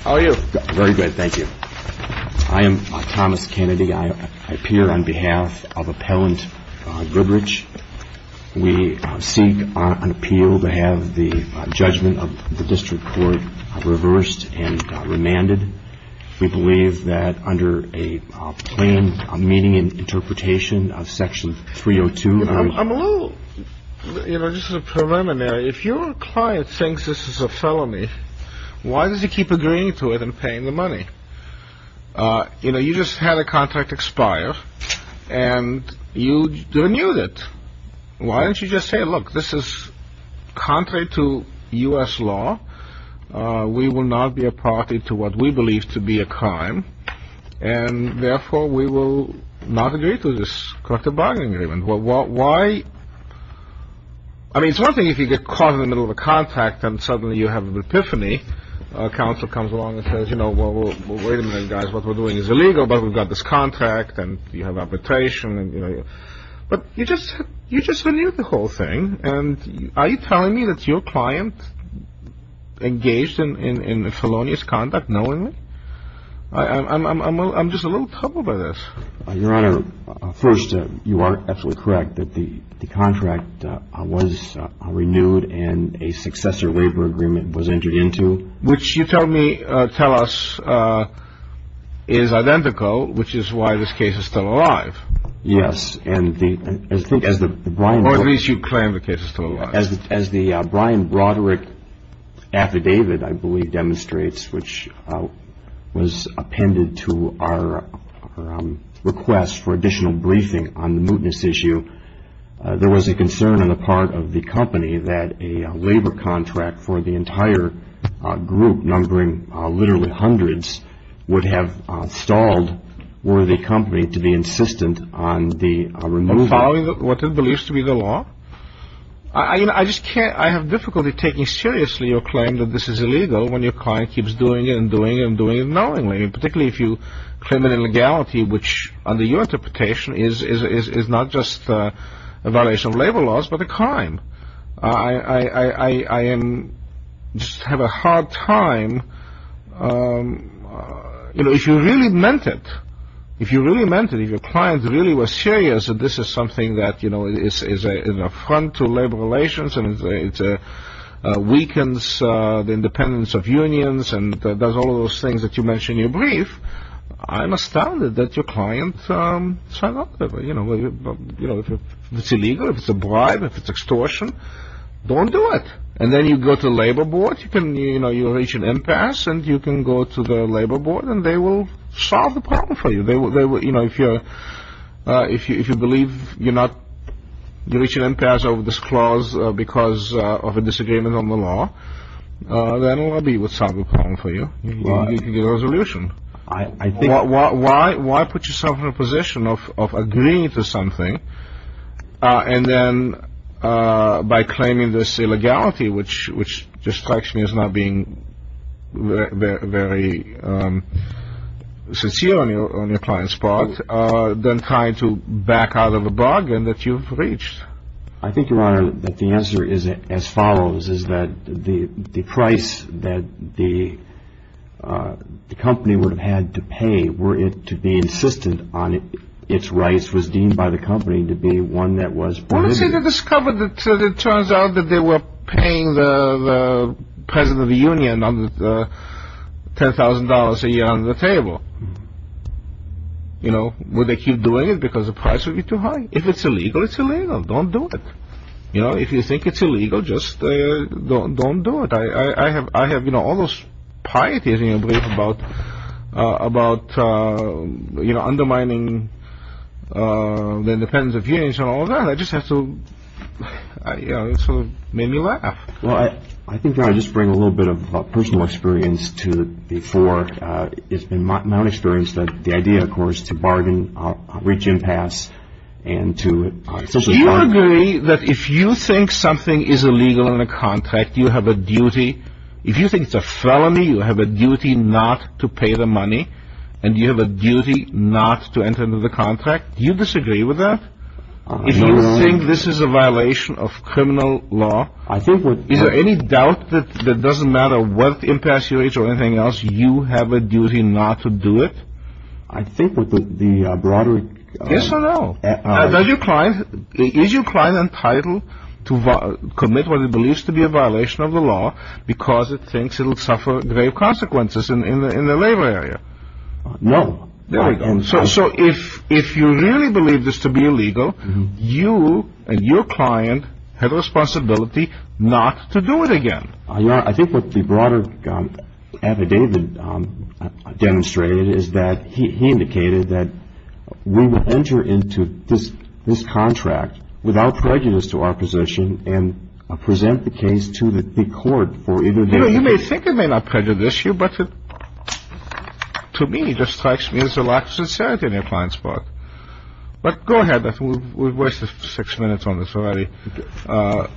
I am Thomas Kennedy. I appear on behalf of Appellant Goodrich. We seek an appeal to have the judgment of the District Court reversed and remanded. We believe that under a plain meaning and interpretation of Section 302... If your client thinks this is a felony, why does he keep agreeing to it and paying the money? You just had a contract expire and you renewed it. Why don't you just say, look, this is contrary to U.S. law. We will not be a party to what we believe to be a crime and therefore we will not agree to this. I mean, it's one thing if you get caught in the middle of a contract and suddenly you have an epiphany. Counsel comes along and says, you know, well, wait a minute, guys, what we're doing is illegal, but we've got this contract and you have arbitration. But you just renewed the whole thing. And are you telling me that your client engaged in felonious conduct knowingly? I'm just a little troubled by this. Your Honor, first, you are absolutely correct that the contract was renewed and a successor labor agreement was entered into. Which you tell me, tell us, is identical, which is why this case is still alive. Yes. And I think as the... Or at least you claim the case is still alive. As the Brian Broderick affidavit, I believe, demonstrates, which was appended to our request for additional briefing on the mootness issue, there was a concern on the part of the company that a labor contract for the entire group, numbering literally hundreds, would have stalled were the company to be insistent on the removal. Following what it believes to be the law? I just can't, I have difficulty taking seriously your claim that this is illegal when your client keeps doing it and doing it and doing it knowingly. Particularly if you claim an illegality which, under your interpretation, is not just a violation of labor laws, but a crime. I just have a hard time... You know, if you really meant it, if you really meant it, if your client really was serious that this is something that, you know, is an affront to labor relations and it weakens the independence of unions and does all those things that you mention in your brief, I'm astounded that your client signed off. You know, if it's illegal, if it's a bribe, if it's extortion, don't do it. And then you go to the labor board, you know, you reach an impasse and you can go to the labor board and they will solve the problem for you. They will, you know, if you believe you're not, you reach an impasse over this clause because of a disagreement on the law, then the lobby will solve the problem for you and you can get a resolution. Why put yourself in a position of agreeing to something and then by claiming this illegality, which just strikes me as not being very sincere on your client's part, then trying to back out of a bargain that you've reached? I think, Your Honor, that the answer is as follows, is that the price that the company would have had to pay were it to be insistent on its rights was deemed by the company to be one that was forbidden. Well, let's say they discovered that it turns out that they were paying the president of the union $10,000 a year under the table. You know, would they keep doing it because the price would be too high? If it's illegal, it's illegal. Don't do it. You know, if you think it's illegal, just don't do it. I have, you know, all those pieties in me about, you know, undermining the independence of unions and all of that. I just have to, you know, it sort of made me laugh. Well, I think, Your Honor, I'll just bring a little bit of personal experience to the fore. It's been my own experience that the idea, of course, to bargain, reach impasse, and to... Do you agree that if you think something is illegal in a contract, you have a duty? If you think it's a felony, you have a duty not to pay the money, and you have a duty not to enter into the contract? Do you disagree with that? No, Your Honor. If you think this is a violation of criminal law? I think with... Is there any doubt that it doesn't matter what impasse you reach or anything else, you have a duty not to do it? I think with the broader... Yes or no? Is your client entitled to commit what he believes to be a violation of the law because he thinks it will suffer grave consequences in the labor area? No. There we go. So if you really believe this to be illegal, you and your client have a responsibility not to do it again. Your Honor, I think what the broader affidavit demonstrated is that he indicated that we will enter into this contract without prejudice to our position and present the case to the court for either... You know, you may think it may not prejudice you, but to me, it just strikes me as a lack of sincerity on your client's part. But go ahead. We've wasted six minutes on this already. But,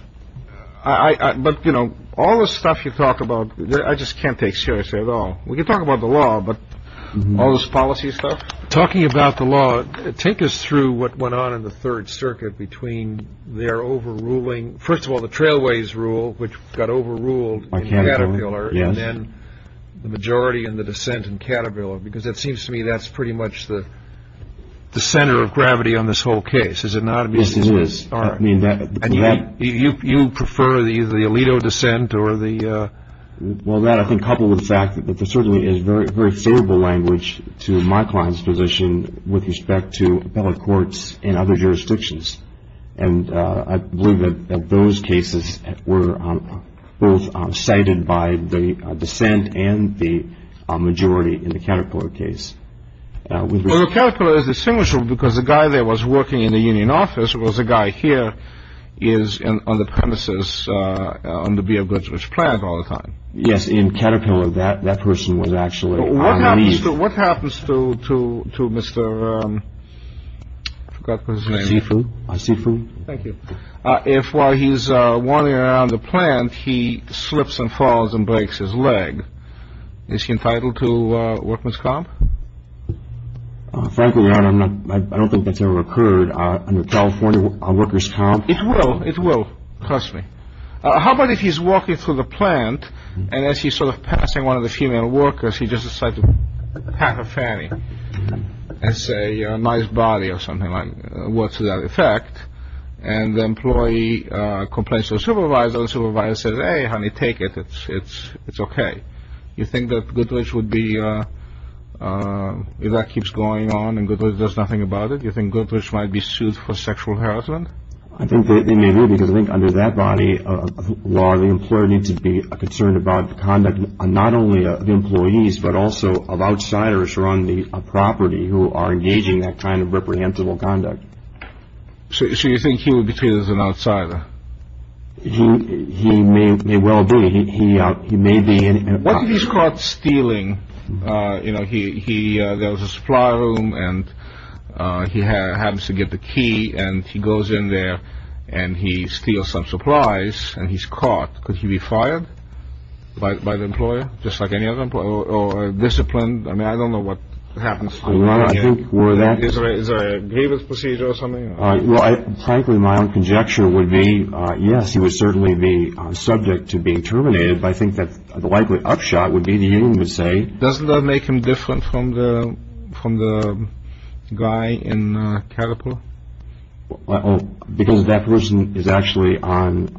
you know, all this stuff you talk about, I just can't take seriously at all. We can talk about the law, but all this policy stuff? Talking about the law, take us through what went on in the Third Circuit between their overruling... Which got overruled in Caterpillar and then the majority in the dissent in Caterpillar. Because it seems to me that's pretty much the center of gravity on this whole case. Is it not? Yes, it is. And you prefer the Alito dissent or the... Well, that, I think, coupled with the fact that there certainly is very favorable language to my client's position with respect to appellate courts in other jurisdictions. And I believe that those cases were both cited by the dissent and the majority in the Caterpillar case. Well, Caterpillar is a single issue because the guy that was working in the union office, who was the guy here, is on the premises on the Beard Goods, which plant all the time. Yes, in Caterpillar, that person was actually... What happens to Mr. Seifu? Thank you. If while he's wandering around the plant, he slips and falls and breaks his leg, is he entitled to workman's comp? Frankly, I don't think that's ever occurred under California workers' comp. It will. It will. Trust me. How about if he's walking through the plant, and as he's sort of passing one of the female workers, he just decides to pat her fanny and say, nice body or something like that. What's the effect? And the employee complains to the supervisor. The supervisor says, hey, honey, take it. It's okay. You think that Goodrich would be... If that keeps going on and Goodrich does nothing about it, do you think Goodrich might be sued for sexual harassment? I think they may be, because I think under that body of law, the employer needs to be concerned about the conduct not only of the employees, but also of outsiders who are on the property who are engaging that kind of reprehensible conduct. So you think he would be treated as an outsider? He may well be. He may be... What if he's caught stealing? You know, there was a supply room, and he happens to get the key, and he goes in there, and he steals some supplies, and he's caught. Could he be fired by the employer, just like any other employer, or disciplined? I mean, I don't know what happens. Is there a grievance procedure or something? Frankly, my own conjecture would be, yes, he would certainly be subject to being terminated. But I think that the likely upshot would be the union would say... Doesn't that make him different from the guy in Carapel? Because that person is actually on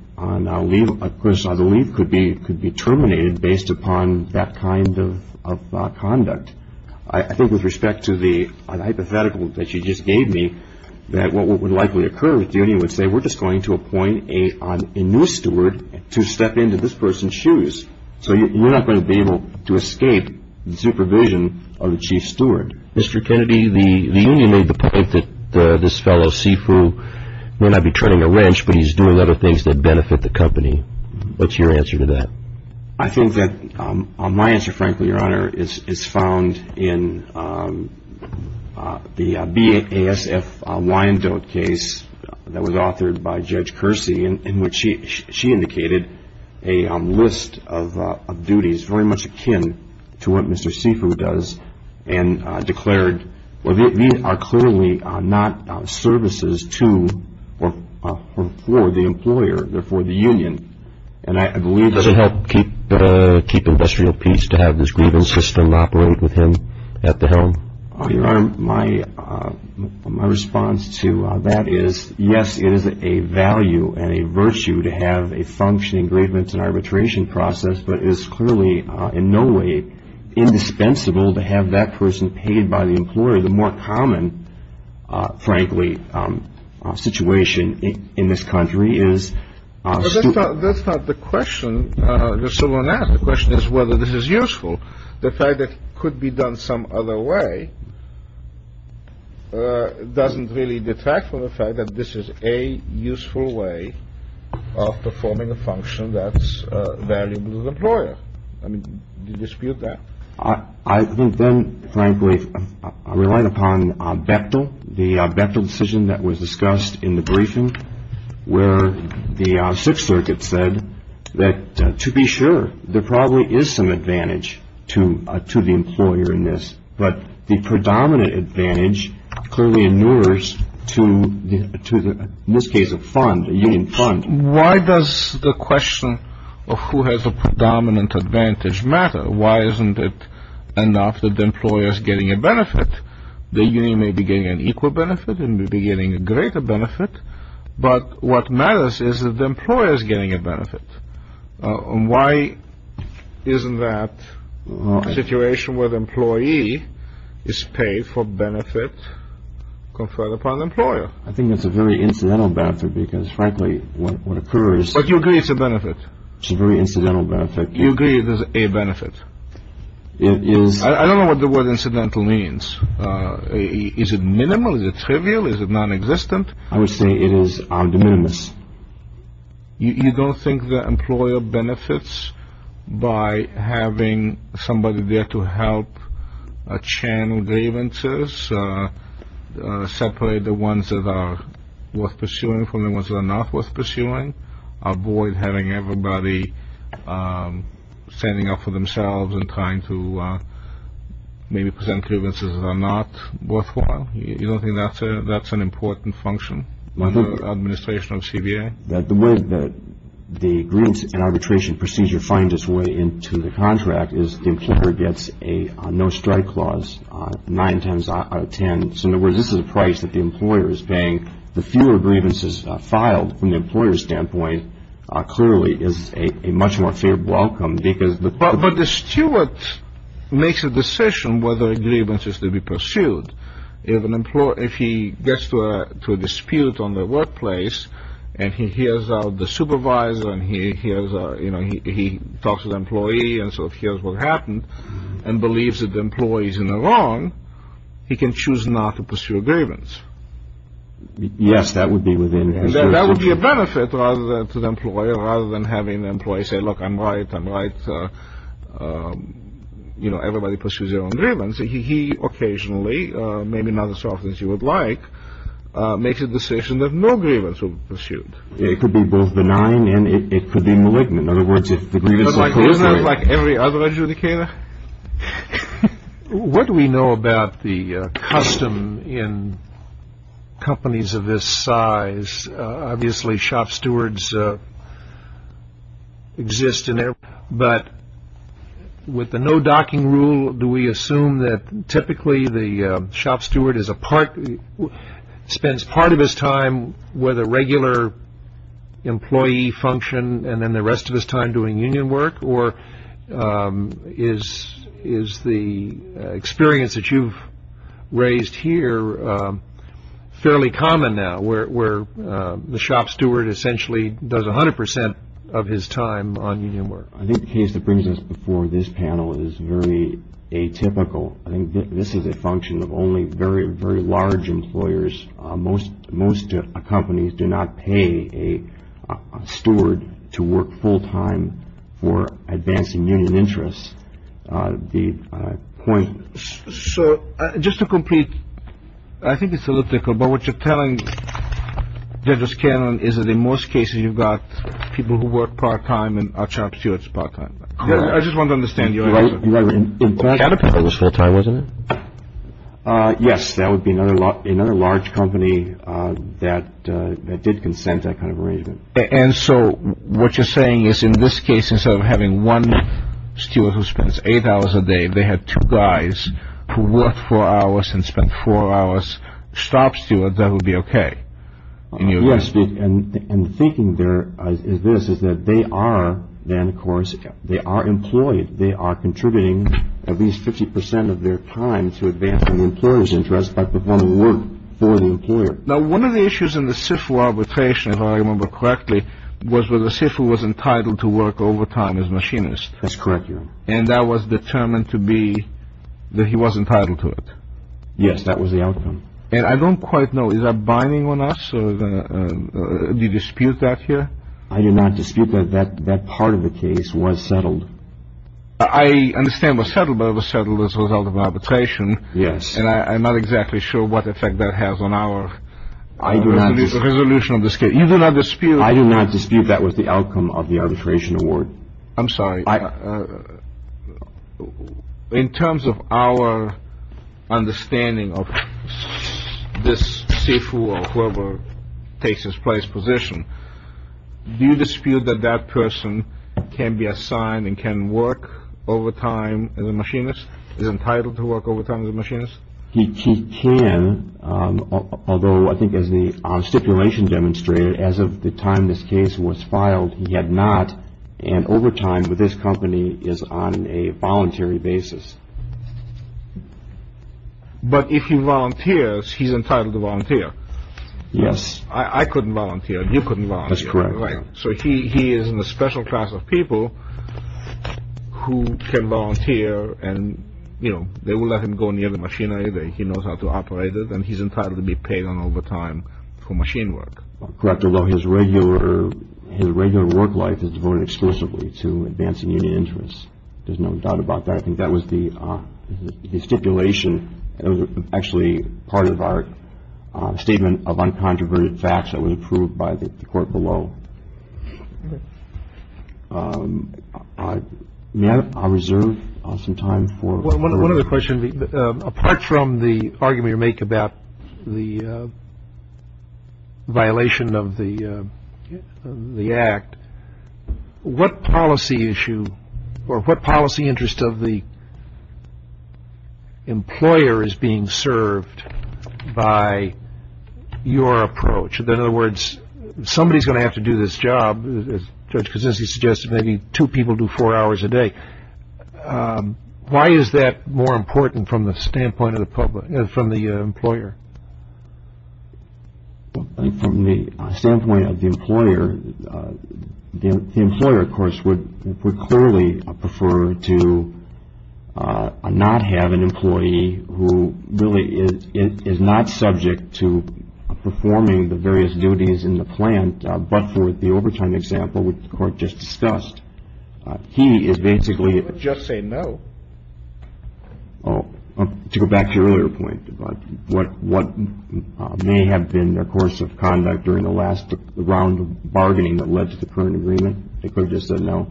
leave. Of course, the leave could be terminated based upon that kind of conduct. I think with respect to the hypothetical that you just gave me, that what would likely occur is the union would say, Mr. Kennedy, the union made the point that this fellow, Sifu, may not be treading a wrench, but he's doing other things that benefit the company. What's your answer to that? I think that my answer, frankly, Your Honor, is found in the BASF Wyandotte case that was authored by Judge Kersey. She indicated a list of duties very much akin to what Mr. Sifu does and declared these are clearly not services to or for the employer, they're for the union. And I believe that... Does it help keep industrial peace to have this grievance system operate with him at the helm? Your Honor, my response to that is, yes, it is a value and a virtue to have a functioning grievance and arbitration process, but it is clearly in no way indispensable to have that person paid by the employer. The more common, frankly, situation in this country is... That's not the question. The question is whether this is useful. The fact that it could be done some other way doesn't really detract from the fact that this is a useful way of performing a function that's valuable to the employer. I mean, do you dispute that? I think then, frankly, relying upon Bechtel, the Bechtel decision that was discussed in the briefing, where the Sixth Circuit said that, to be sure, there probably is some advantage to the employer in this, but the predominant advantage clearly inures to, in this case, a fund, a union fund. Why does the question of who has a predominant advantage matter? Why isn't it enough that the employer is getting a benefit? The union may be getting an equal benefit and may be getting a greater benefit, but what matters is that the employer is getting a benefit. Why isn't that situation where the employee is paid for benefit conferred upon the employer? I think that's a very incidental benefit because, frankly, what occurs... But you agree it's a benefit. It's a very incidental benefit. You agree it is a benefit. It is... I don't know what the word incidental means. Is it minimal? Is it trivial? Is it nonexistent? I would say it is arguments. You don't think the employer benefits by having somebody there to help channel grievances, separate the ones that are worth pursuing from the ones that are not worth pursuing, avoid having everybody standing up for themselves and trying to maybe present grievances that are not worthwhile? You don't think that's an important function under the administration of CBA? The way that the grievance and arbitration procedure finds its way into the contract is the employer gets a no-strike clause, nine times out of ten. So, in other words, this is a price that the employer is paying. The fewer grievances filed from the employer's standpoint clearly is a much more fair welcome because... But the steward makes a decision whether a grievance is to be pursued. If he gets to a dispute on the workplace and he hears the supervisor and he talks to the employee and sort of hears what happened and believes that the employee is in the wrong, he can choose not to pursue a grievance. Yes, that would be within his jurisdiction. That would be a benefit to the employer rather than having the employee say, look, I'm right, I'm right, everybody pursues their own grievance. He occasionally, maybe not as often as you would like, makes a decision that no grievance will be pursued. It could be both benign and it could be malignant. In other words, if the grievance is... Isn't that like every other adjudicator? What do we know about the custom in companies of this size? Obviously shop stewards exist in there, but with the no docking rule, do we assume that typically the shop steward is a part... Spends part of his time with a regular employee function and then the rest of his time doing union work? Or is the experience that you've raised here fairly common now where the shop steward essentially does 100% of his time on union work? I think the case that brings us before this panel is very atypical. I think this is a function of only very, very large employers. Most companies do not pay a steward to work full-time for advancing union interests. The point... So just to complete, I think it's a little difficult, but what you're telling, Judge O'Scannon, is that in most cases you've got people who work part-time and are shop stewards part-time. I just want to understand your answer. In fact... That was full-time, wasn't it? Yes, that would be another large company that did consent to that kind of arrangement. And so what you're saying is in this case, instead of having one steward who spends eight hours a day, they had two guys who worked four hours and spent four hours shop stewards, that would be okay? Yes, and the thinking there is this, is that they are then, of course, they are employed. They are contributing at least 50% of their time to advancing the employer's interests by performing work for the employer. Now, one of the issues in the SIFU arbitration, if I remember correctly, was that the SIFU was entitled to work overtime as machinist. That's correct, Your Honor. And that was determined to be that he was entitled to it. Yes, that was the outcome. And I don't quite know, is that binding on us? Do you dispute that here? I do not dispute that that part of the case was settled. I understand it was settled, but it was settled as a result of arbitration. Yes. And I'm not exactly sure what effect that has on our resolution of the case. You do not dispute? I do not dispute that was the outcome of the arbitration award. I'm sorry. In terms of our understanding of this SIFU or whoever takes this place position, do you dispute that that person can be assigned and can work overtime as a machinist, is entitled to work overtime as a machinist? He can, although I think as the stipulation demonstrated, as of the time this case was filed, he had not. And overtime with this company is on a voluntary basis. But if he volunteers, he's entitled to volunteer. Yes. I couldn't volunteer. You couldn't volunteer. That's correct. Right. So he is in a special class of people who can volunteer and, you know, they will let him go near the machinery. He knows how to operate it, and he's entitled to be paid on overtime for machine work. Correct, although his regular work life is devoted exclusively to advancing union interests. There's no doubt about that. I think that was the stipulation that was actually part of our statement of uncontroverted facts that was approved by the court below. May I reserve some time for one other question? Apart from the argument you make about the violation of the Act, what policy issue or what policy interest of the employer is being served by your approach? In other words, somebody is going to have to do this job, as Judge Kuczynski suggested, maybe two people do four hours a day. Why is that more important from the standpoint of the employer? From the standpoint of the employer, the employer, of course, would clearly prefer to not have an employee who really is not subject to performing the various duties in the plant, but for the overtime example, which the court just discussed, he is basically- He wouldn't just say no. To go back to your earlier point about what may have been their course of conduct during the last round of bargaining that led to the current agreement, they could have just said no.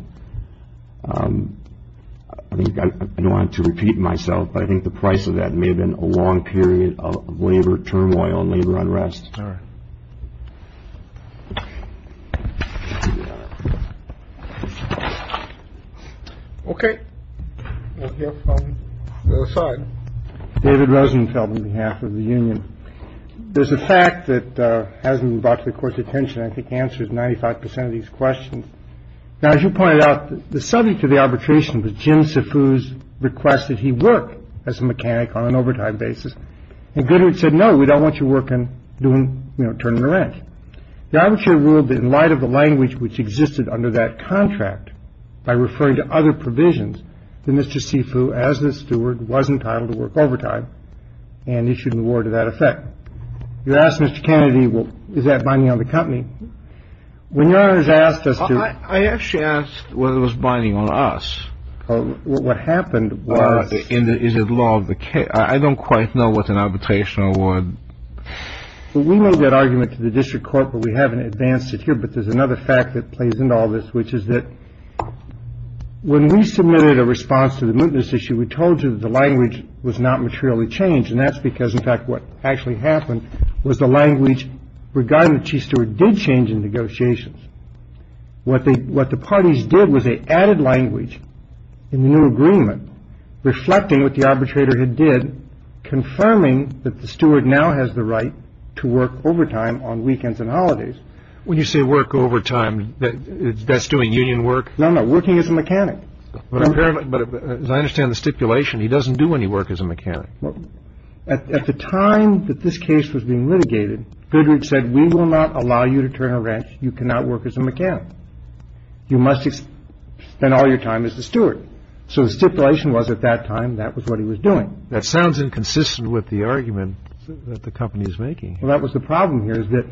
I don't want to repeat myself, but I think the price of that may have been a long period of labor turmoil and labor unrest. All right. OK. David Rosenfeld, on behalf of the union. There's a fact that hasn't brought the court's attention. I think answers 95 percent of these questions. Now, as you pointed out, the subject of the arbitration was Jim Sifu's request that he work as a mechanic on an overtime basis. And Goodhart said, no, we don't want you working, doing, you know, turning the wrench. The arbitrator ruled that in light of the language which existed under that contract by referring to other provisions, that Mr. Sifu, as the steward, was entitled to work overtime and issued an award to that effect. You asked Mr. Kennedy, well, is that binding on the company? When your Honor has asked us to- I actually asked whether it was binding on us. What happened was- I don't quite know what's an arbitration award. We made that argument to the district court, but we haven't advanced it here. But there's another fact that plays into all this, which is that when we submitted a response to the mootness issue, we told you that the language was not materially changed. And that's because, in fact, what actually happened was the language regarding the chief steward did change in negotiations. What the parties did was they added language in the new agreement reflecting what the arbitrator had did, confirming that the steward now has the right to work overtime on weekends and holidays. When you say work overtime, that's doing union work? No, no, working as a mechanic. But as I understand the stipulation, he doesn't do any work as a mechanic. At the time that this case was being litigated, Goodhart said, we will not allow you to turn a wrench. You cannot work as a mechanic. You must spend all your time as the steward. So the stipulation was at that time that was what he was doing. That sounds inconsistent with the argument that the company is making. Well, that was the problem here is that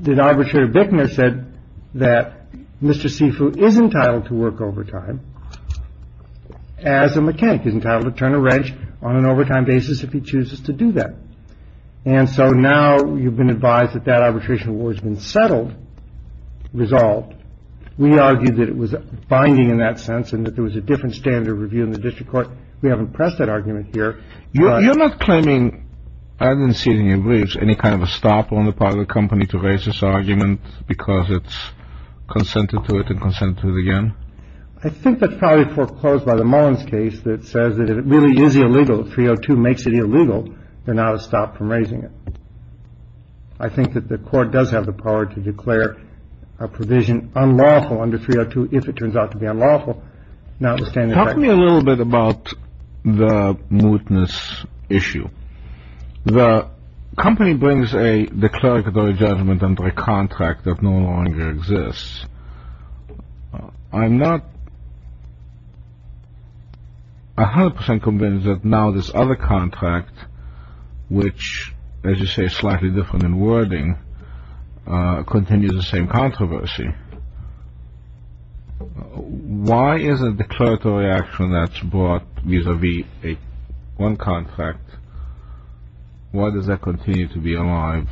the arbitrator Bickner said that Mr. Sifu is entitled to work overtime as a mechanic. He's entitled to turn a wrench on an overtime basis if he chooses to do that. And so now you've been advised that that arbitration war has been settled, resolved. We argued that it was binding in that sense and that there was a different standard of review in the district court. We haven't pressed that argument here. You're not claiming, I didn't see it in your briefs, any kind of a stop on the part of the company to raise this argument because it's consented to it and consented to it again? I think that's probably foreclosed by the Mullins case that says that if it really is illegal, 302 makes it illegal, there's not a stop from raising it. I think that the court does have the power to declare a provision unlawful under 302 if it turns out to be unlawful. Talk to me a little bit about the mootness issue. The company brings a declaratory judgment under a contract that no longer exists. I'm not 100% convinced that now this other contract, which, as you say, is slightly different in wording, continues the same controversy. Why is a declaratory action that's brought vis-a-vis one contract, why does that continue to be alive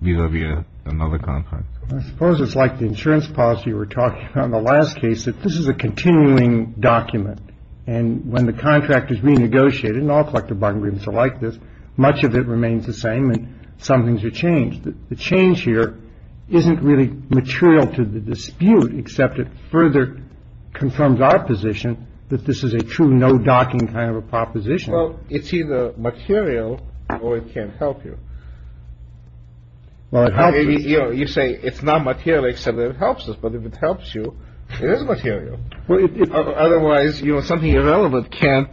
vis-a-vis another contract? I suppose it's like the insurance policy we were talking about in the last case, that this is a continuing document. And when the contract is renegotiated, and all collective bargaining agreements are like this, much of it remains the same and some things are changed. The change here isn't really material to the dispute, except it further confirms our position that this is a true no docking kind of a proposition. Well, it's either material or it can't help you. You say it's not material except that it helps us. But if it helps you, it is material. Otherwise, something irrelevant can't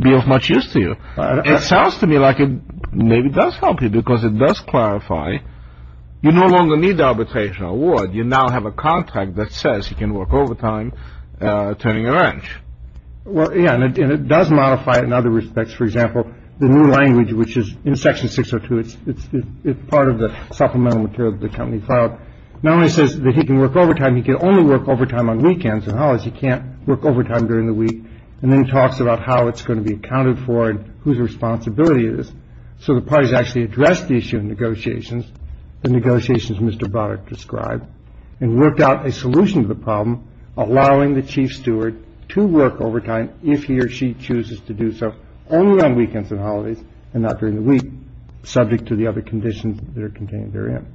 be of much use to you. It sounds to me like it maybe does help you because it does clarify you no longer need the arbitration award. You now have a contract that says you can work overtime turning a wrench. Well, yeah, and it does modify it in other respects. For example, the new language, which is in Section 602. It's part of the supplemental material that the company filed. Now it says that he can work overtime. He can only work overtime on weekends and holidays. He can't work overtime during the week and then talks about how it's going to be accounted for and whose responsibility it is. So the parties actually address the issue of negotiations, the negotiations Mr. Barrett described and worked out a solution to the problem, allowing the chief steward to work overtime. And if he or she chooses to do so only on weekends and holidays and not during the week, subject to the other conditions that are contained therein.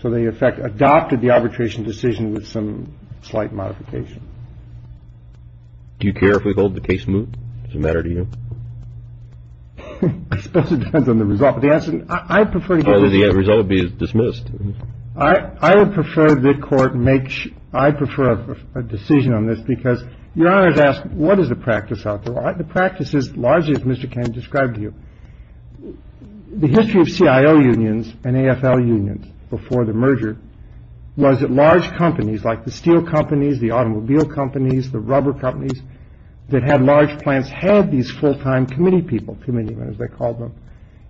So they, in fact, adopted the arbitration decision with some slight modification. Do you care if we hold the case moot? Does it matter to you? I suppose it depends on the result of the answer. I prefer the result be dismissed. I would prefer that court make. I prefer a decision on this because Your Honor has asked what is the practice out there? The practice is largely, as Mr. Caine described to you, the history of CIO unions and AFL unions before the merger was that large companies like the steel companies, the automobile companies, the rubber companies that had large plants had these full time committee people, committee men as they called them.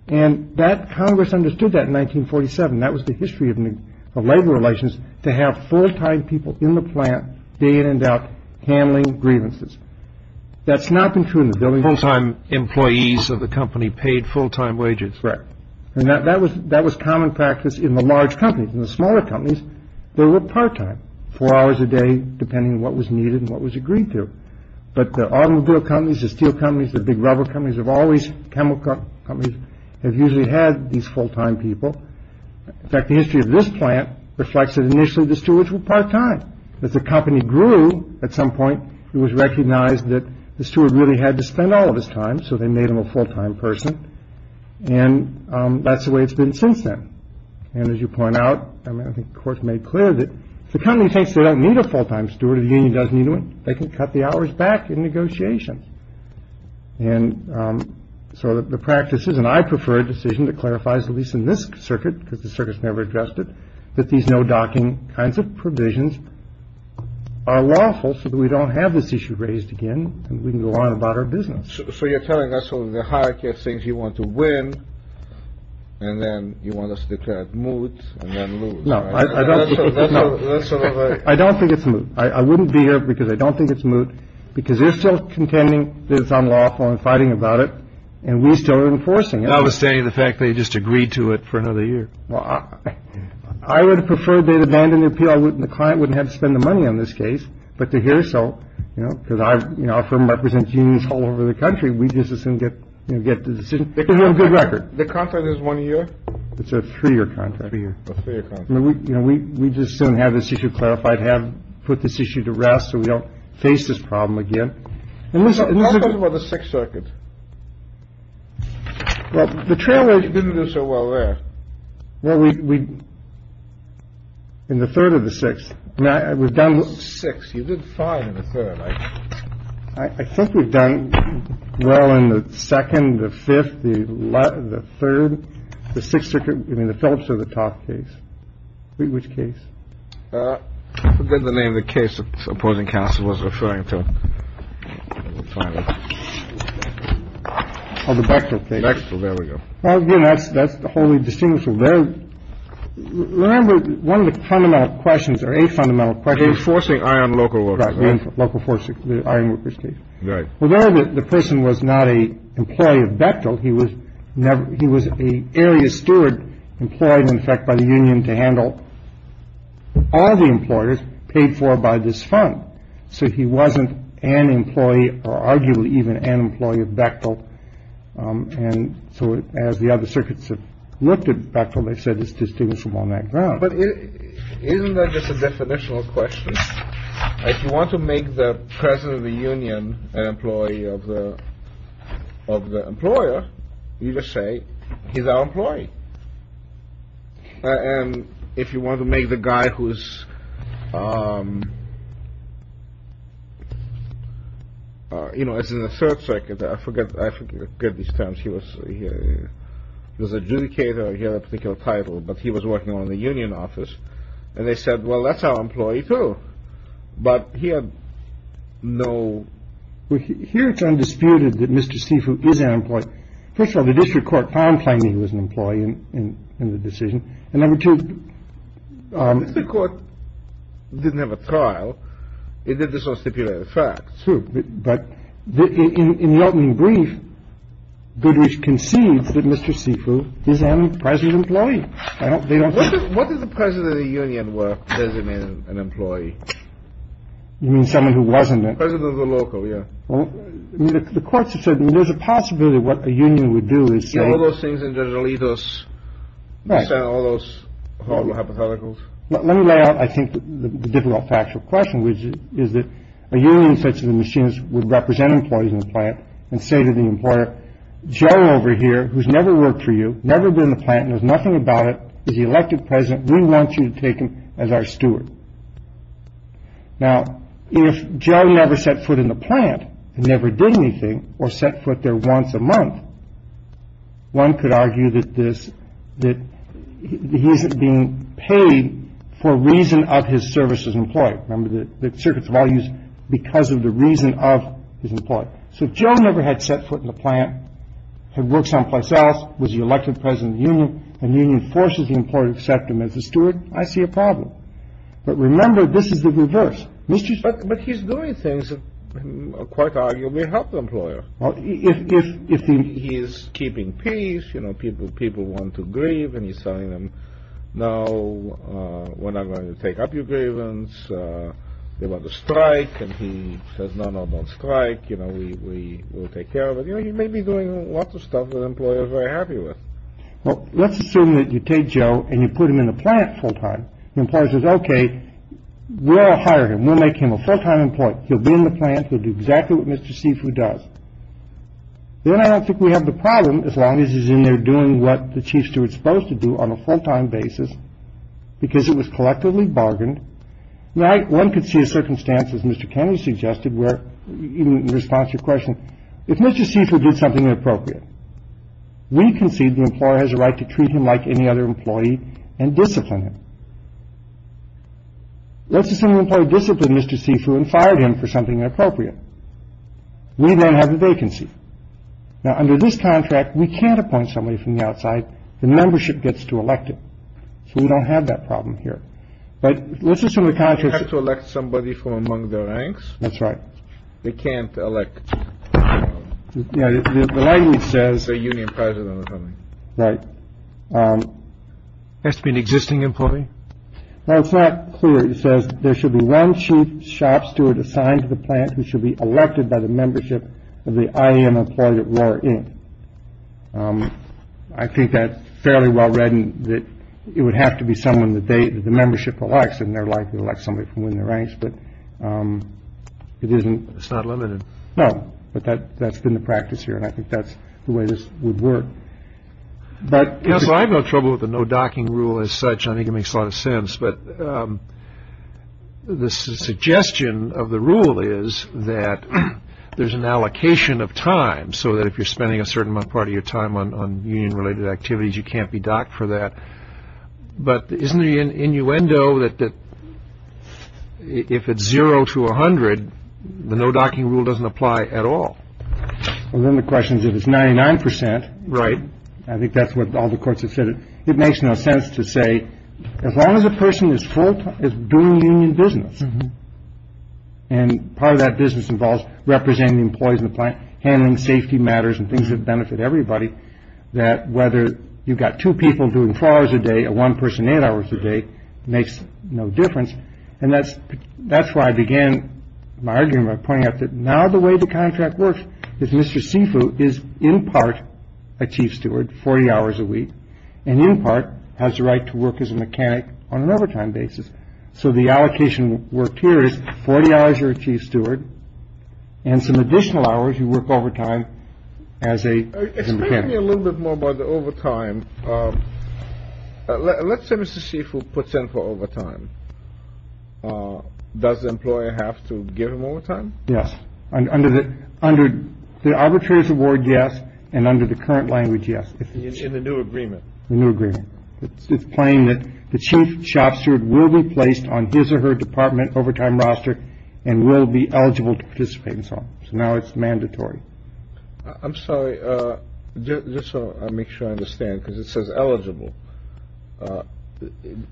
And that Congress understood that in 1947. That was the history of the labor relations to have full time people in the plant. They ended up handling grievances. That's not been true in the building. Full time employees of the company paid full time wages. And that was that was common practice in the large companies and the smaller companies. There were part time four hours a day depending on what was needed and what was agreed to. But the automobile companies, the steel companies, the big rubber companies have always chemical companies have usually had these full time people. In fact, the history of this plant reflects that initially the stewards were part time as the company grew. At some point, it was recognized that the steward really had to spend all of his time. So they made him a full time person. And that's the way it's been since then. And as you point out, I mean, of course, made clear that the company thinks they don't need a full time steward. The union doesn't do it. They can cut the hours back in negotiations. And so the practices and I prefer a decision that clarifies, at least in this circuit, because the circus never addressed it, that these no docking kinds of provisions are lawful so that we don't have this issue raised again. And we can go on about our business. So you're telling us the hierarchy of things you want to win. And then you want us to declare it moot. No, I don't. I don't think it's moot. I wouldn't be here because I don't think it's moot, because they're still contending that it's unlawful and fighting about it. And we still are enforcing it. I would say the fact they just agreed to it for another year. Well, I would have preferred they'd abandoned the appeal. I wouldn't the client wouldn't have to spend the money on this case. But to hear so, you know, because I, you know, from represent genius all over the country. We just didn't get to get a good record. The contract is one year. It's a three year contract. You know, we we just don't have this issue clarified. Have put this issue to rest. So we don't face this problem again. And this is what the Sixth Circuit. Well, the trailer didn't do so well there. Well, we. In the third of the six. We've done six. You did five in the third. I think we've done well in the second. The fifth. The third. The Sixth Circuit. I mean, the Phillips or the top case. Which case did the name of the case opposing counsel was referring to. On the back of the next. Well, there we go. Well, that's that's the only distinguishable there. Remember, one of the fundamental questions or a fundamental question. Forcing on local local force. Right. Well, the person was not a employee of Bechtel. He was never. He was a area steward employed, in fact, by the union to handle all the employers paid for by this fund. So he wasn't an employee or arguably even an employee of Bechtel. And so as the other circuits have looked at Bechtel, they said it's distinguishable on that ground. But isn't that just a definitional question? If you want to make the president of the union an employee of the of the employer, you just say he's our employee. And if you want to make the guy who's. You know, as in the third circuit, I forget. I forget these terms. He was he was adjudicator. He had a particular title, but he was working on the union office. And they said, well, that's our employee, too. But he had no. Here it's undisputed that Mr. Sifu is an employee. First of all, the district court found finding he was an employee in the decision. And number two, the court didn't have a trial. It did this on stipulated facts. But in the opening brief, Goodrich concedes that Mr. Sifu is an present employee. What is the president of the union work? Does it mean an employee? You mean someone who wasn't the president of the local? Yeah. Well, the courts have said there's a possibility what a union would do is say all those things. Which is that a union such as the machines would represent employees in the plant and say to the employer, Joe, over here, who's never worked for you, never been the plant. There's nothing about it. Is he elected president? We want you to take him as our steward. Now, if Joe never set foot in the plant and never did anything or set foot there once a month. One could argue that this that he isn't being paid for reason of his service as employed member that the circuits of all use because of the reason of his employment. So Joe never had set foot in the plant, had worked someplace else, was the elected president of the union and union forces the employer to accept him as a steward. I see a problem. But remember, this is the reverse. But he's doing things that quite arguably help the employer if he is keeping peace. You know, people, people want to grieve and he's telling them, no, we're not going to take up your grievance about the strike. And he says, no, no more strike. You know, we will take care of it. You may be doing lots of stuff that employers are happy with. Well, let's assume that you take Joe and you put him in the plant full time. Employers is OK. We'll hire him. We'll make him a full time employee. He'll be in the plant. We'll do exactly what Mr. Seifu does. Then I don't think we have the problem as long as he's in there doing what the chiefs are supposed to do on a full time basis because it was collectively bargained. One could see a circumstance, as Mr. Kennedy suggested, where in response to your question, if Mr. Seifu did something inappropriate. We concede the employer has a right to treat him like any other employee and discipline him. Let's assume the employee discipline Mr. Seifu and fired him for something inappropriate. We don't have a vacancy. Now, under this contract, we can't appoint somebody from the outside. The membership gets to elect it. So we don't have that problem here. But let's assume the contract to elect somebody from among the ranks. That's right. They can't elect. Yeah, it says a union president. Right. Has to be an existing employee. Now, it's not clear. It says there should be one chief shop steward assigned to the plant who should be elected by the membership of the I.M. Employee at War Inc. I think that's fairly well read and that it would have to be someone that the membership elects in their life. You elect somebody from within the ranks, but it isn't. It's not limited. No, but that that's been the practice here. And I think that's the way this would work. But I've got trouble with the no docking rule as such. I think it makes a lot of sense. But the suggestion of the rule is that there's an allocation of time. So that if you're spending a certain part of your time on union related activities, you can't be docked for that. But isn't the innuendo that if it's zero to one hundred, the no docking rule doesn't apply at all. Well, then the question is, if it's ninety nine percent. Right. I think that's what all the courts have said. It makes no sense to say as long as a person is full is doing business. And part of that business involves representing employees in the plant, handling safety matters and things that benefit everybody. That whether you've got two people doing four hours a day or one person eight hours a day makes no difference. And that's that's why I began my argument pointing out that now the way the contract works is Mr. Sifu is in part a chief steward 40 hours a week and in part has the right to work as a mechanic on an overtime basis. So the allocation worked here is 40 hours your chief steward and some additional hours. You work overtime as a little bit more about the overtime. Let's say Mr. Sifu puts in for overtime. Does the employer have to give him overtime? Yes. Under the under the arbitrator's award. Yes. And under the current language. Yes. In the new agreement. New agreement. It's plain that the chief shop steward will be placed on his or her department overtime roster and will be eligible to participate. So now it's mandatory. I'm sorry. Just so I make sure I understand because it says eligible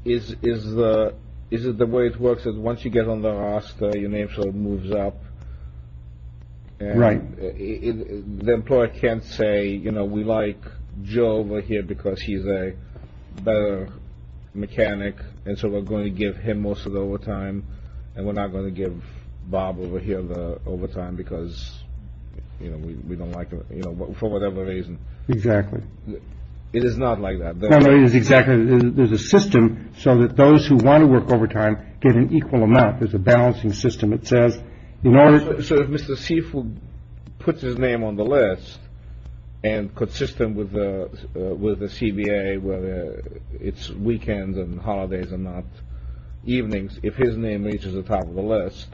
is is the is it the way it works is once you get on the roster, your name sort of moves up. Right. The employer can't say, you know, we like Joe over here because he's a better mechanic. And so we're going to give him most of the overtime and we're not going to give Bob over here the overtime because, you know, we don't like, you know, for whatever reason. Exactly. It is not like that. It is exactly. There's a system so that those who want to work overtime get an equal amount. There's a balancing system, it says, you know, sort of Mr. Sifu puts his name on the list and consistent with the with the CBA, whether it's weekends and holidays and not evenings. If his name reaches the top of the list.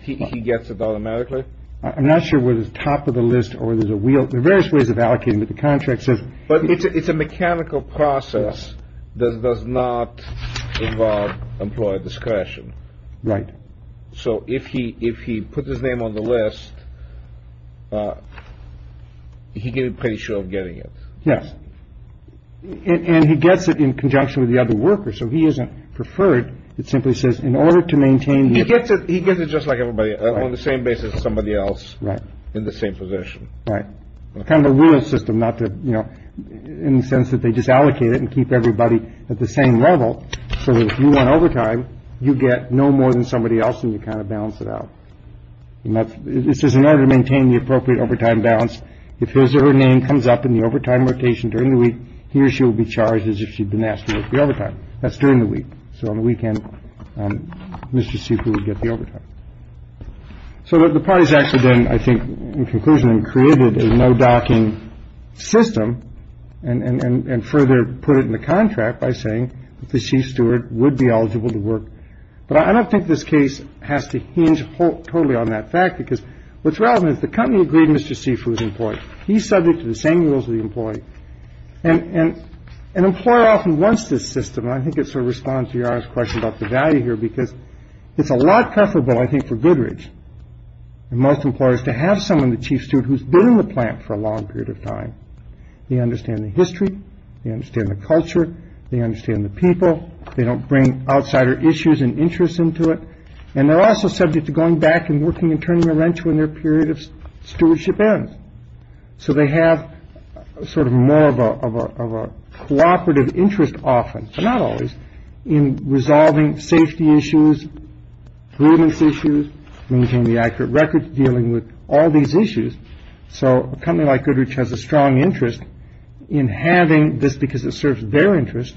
He gets it automatically. I'm not sure where the top of the list or there's a wheel, the various ways of allocating the contract says, but it's a mechanical process that does not involve employer discretion. Right. So if he if he puts his name on the list, he can be pretty sure of getting it. Yes. And he gets it in conjunction with the other worker. So he isn't preferred. It simply says in order to maintain, he gets it. He gets it just like everybody on the same basis. Somebody else. Right. In the same position. Right. Kind of a real system. Not that, you know, in the sense that they just allocate it and keep everybody at the same level. So if you want overtime, you get no more than somebody else. And you kind of balance it out. This is in order to maintain the appropriate overtime balance. If his or her name comes up in the overtime rotation during the week, he or she will be charged as if she'd been asked to work the overtime. That's during the week. So on the weekend, Mr. Sifu would get the overtime. So the parties actually then, I think, in conclusion, created a no docking system and further put it in the contract by saying that the chief steward would be eligible to work. But I don't think this case has to hinge totally on that fact, because what's relevant is the company agreed. Mr. Sifu is employed. He's subject to the same rules of the employee. And an employer often wants this system. I think it's a response to your question about the value here, because it's a lot preferable, I think, for Goodrich and most employers to have someone, the chief steward who's been in the plant for a long period of time. They understand the history. They understand the culture. They understand the people. They don't bring outsider issues and interests into it. And they're also subject to going back and working and turning a wrench when their period of stewardship ends. So they have sort of more of a of a cooperative interest, often not always in resolving safety issues, grievance issues, maintaining the accurate records, dealing with all these issues. So a company like Goodrich has a strong interest in having this because it serves their interest.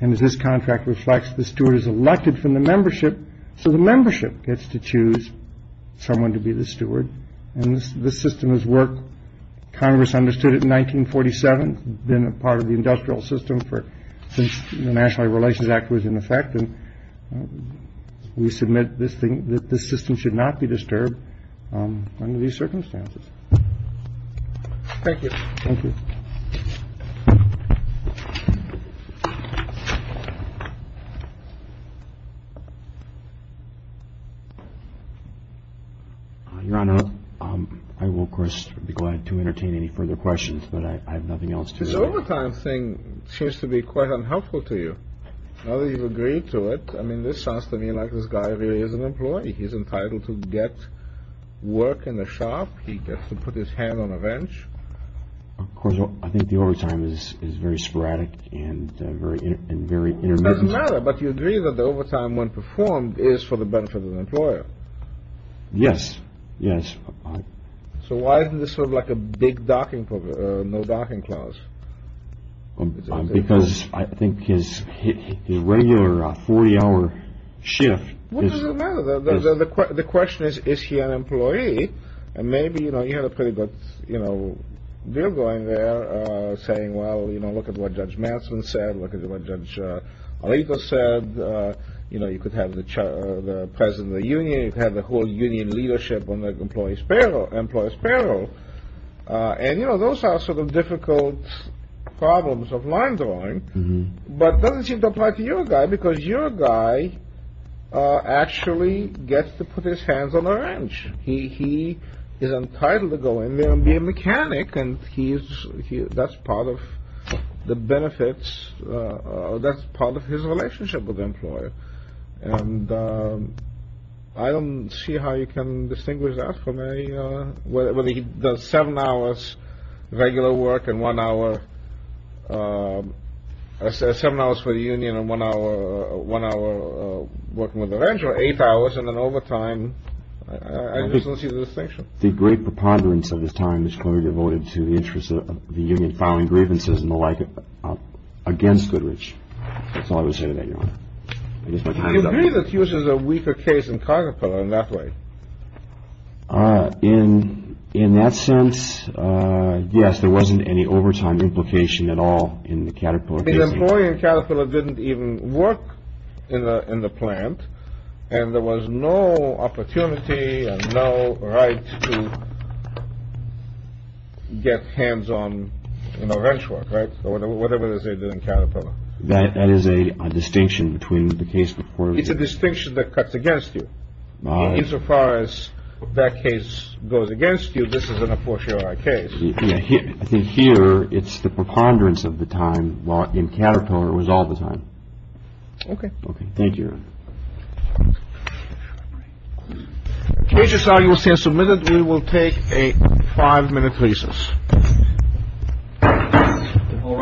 And as this contract reflects, the steward is elected from the membership. So the membership gets to choose someone to be the steward. And this system is work. Congress understood it in 1947, been a part of the industrial system for since the National Relations Act was in effect. And we submit this thing that this system should not be disturbed under these circumstances. Thank you. Thank you. Your Honor, I will, of course, be glad to entertain any further questions, but I have nothing else to say. This overtime thing seems to be quite unhelpful to you. Now that you've agreed to it. I mean, this sounds to me like this guy really is an employee. He's entitled to get work in the shop. He gets to put his hand on a bench. Of course, I think the overtime is is very sporadic and very and very intermittent. But you agree that the overtime when performed is for the benefit of the employer. Yes. Yes. So why isn't this sort of like a big docking, no docking clause? Because I think his his regular 40 hour shift is the question is, is he an employee? And maybe, you know, you have a pretty good deal going there saying, well, you know, look at what Judge Manson said. Look at what Judge Areto said. You know, you could have the president of the union have the whole union leadership on the employee's payroll, employee's payroll. And, you know, those are sort of difficult problems of line drawing. But doesn't seem to apply to your guy because your guy actually gets to put his hands on the wrench. He he is entitled to go in there and be a mechanic. And he's that's part of the benefits. That's part of his relationship with the employer. And I don't see how you can distinguish that from a whatever he does. Seven hours, regular work and one hour, seven hours for the union and one hour, one hour working with a wrench or eight hours in an overtime. I just don't see the distinction. The great preponderance of this time is clearly devoted to the interest of the union, filing grievances and the like against Goodrich. That's all I would say to that, Your Honor. I just might agree that Hughes is a weaker case in Caterpillar in that way. In in that sense, yes, there wasn't any overtime implication at all in the Caterpillar. The employee in Caterpillar didn't even work in the in the plant and there was no opportunity, no right to get hands on, you know, wrench work. Right. Or whatever they did in Caterpillar. That is a distinction between the case before. It's a distinction that cuts against you. Insofar as that case goes against you. This is an unfortunate case. I think here it's the preponderance of the time in Caterpillar was all the time. OK. OK. Thank you. Cases are you will say submitted. We will take a five minute recess. All right............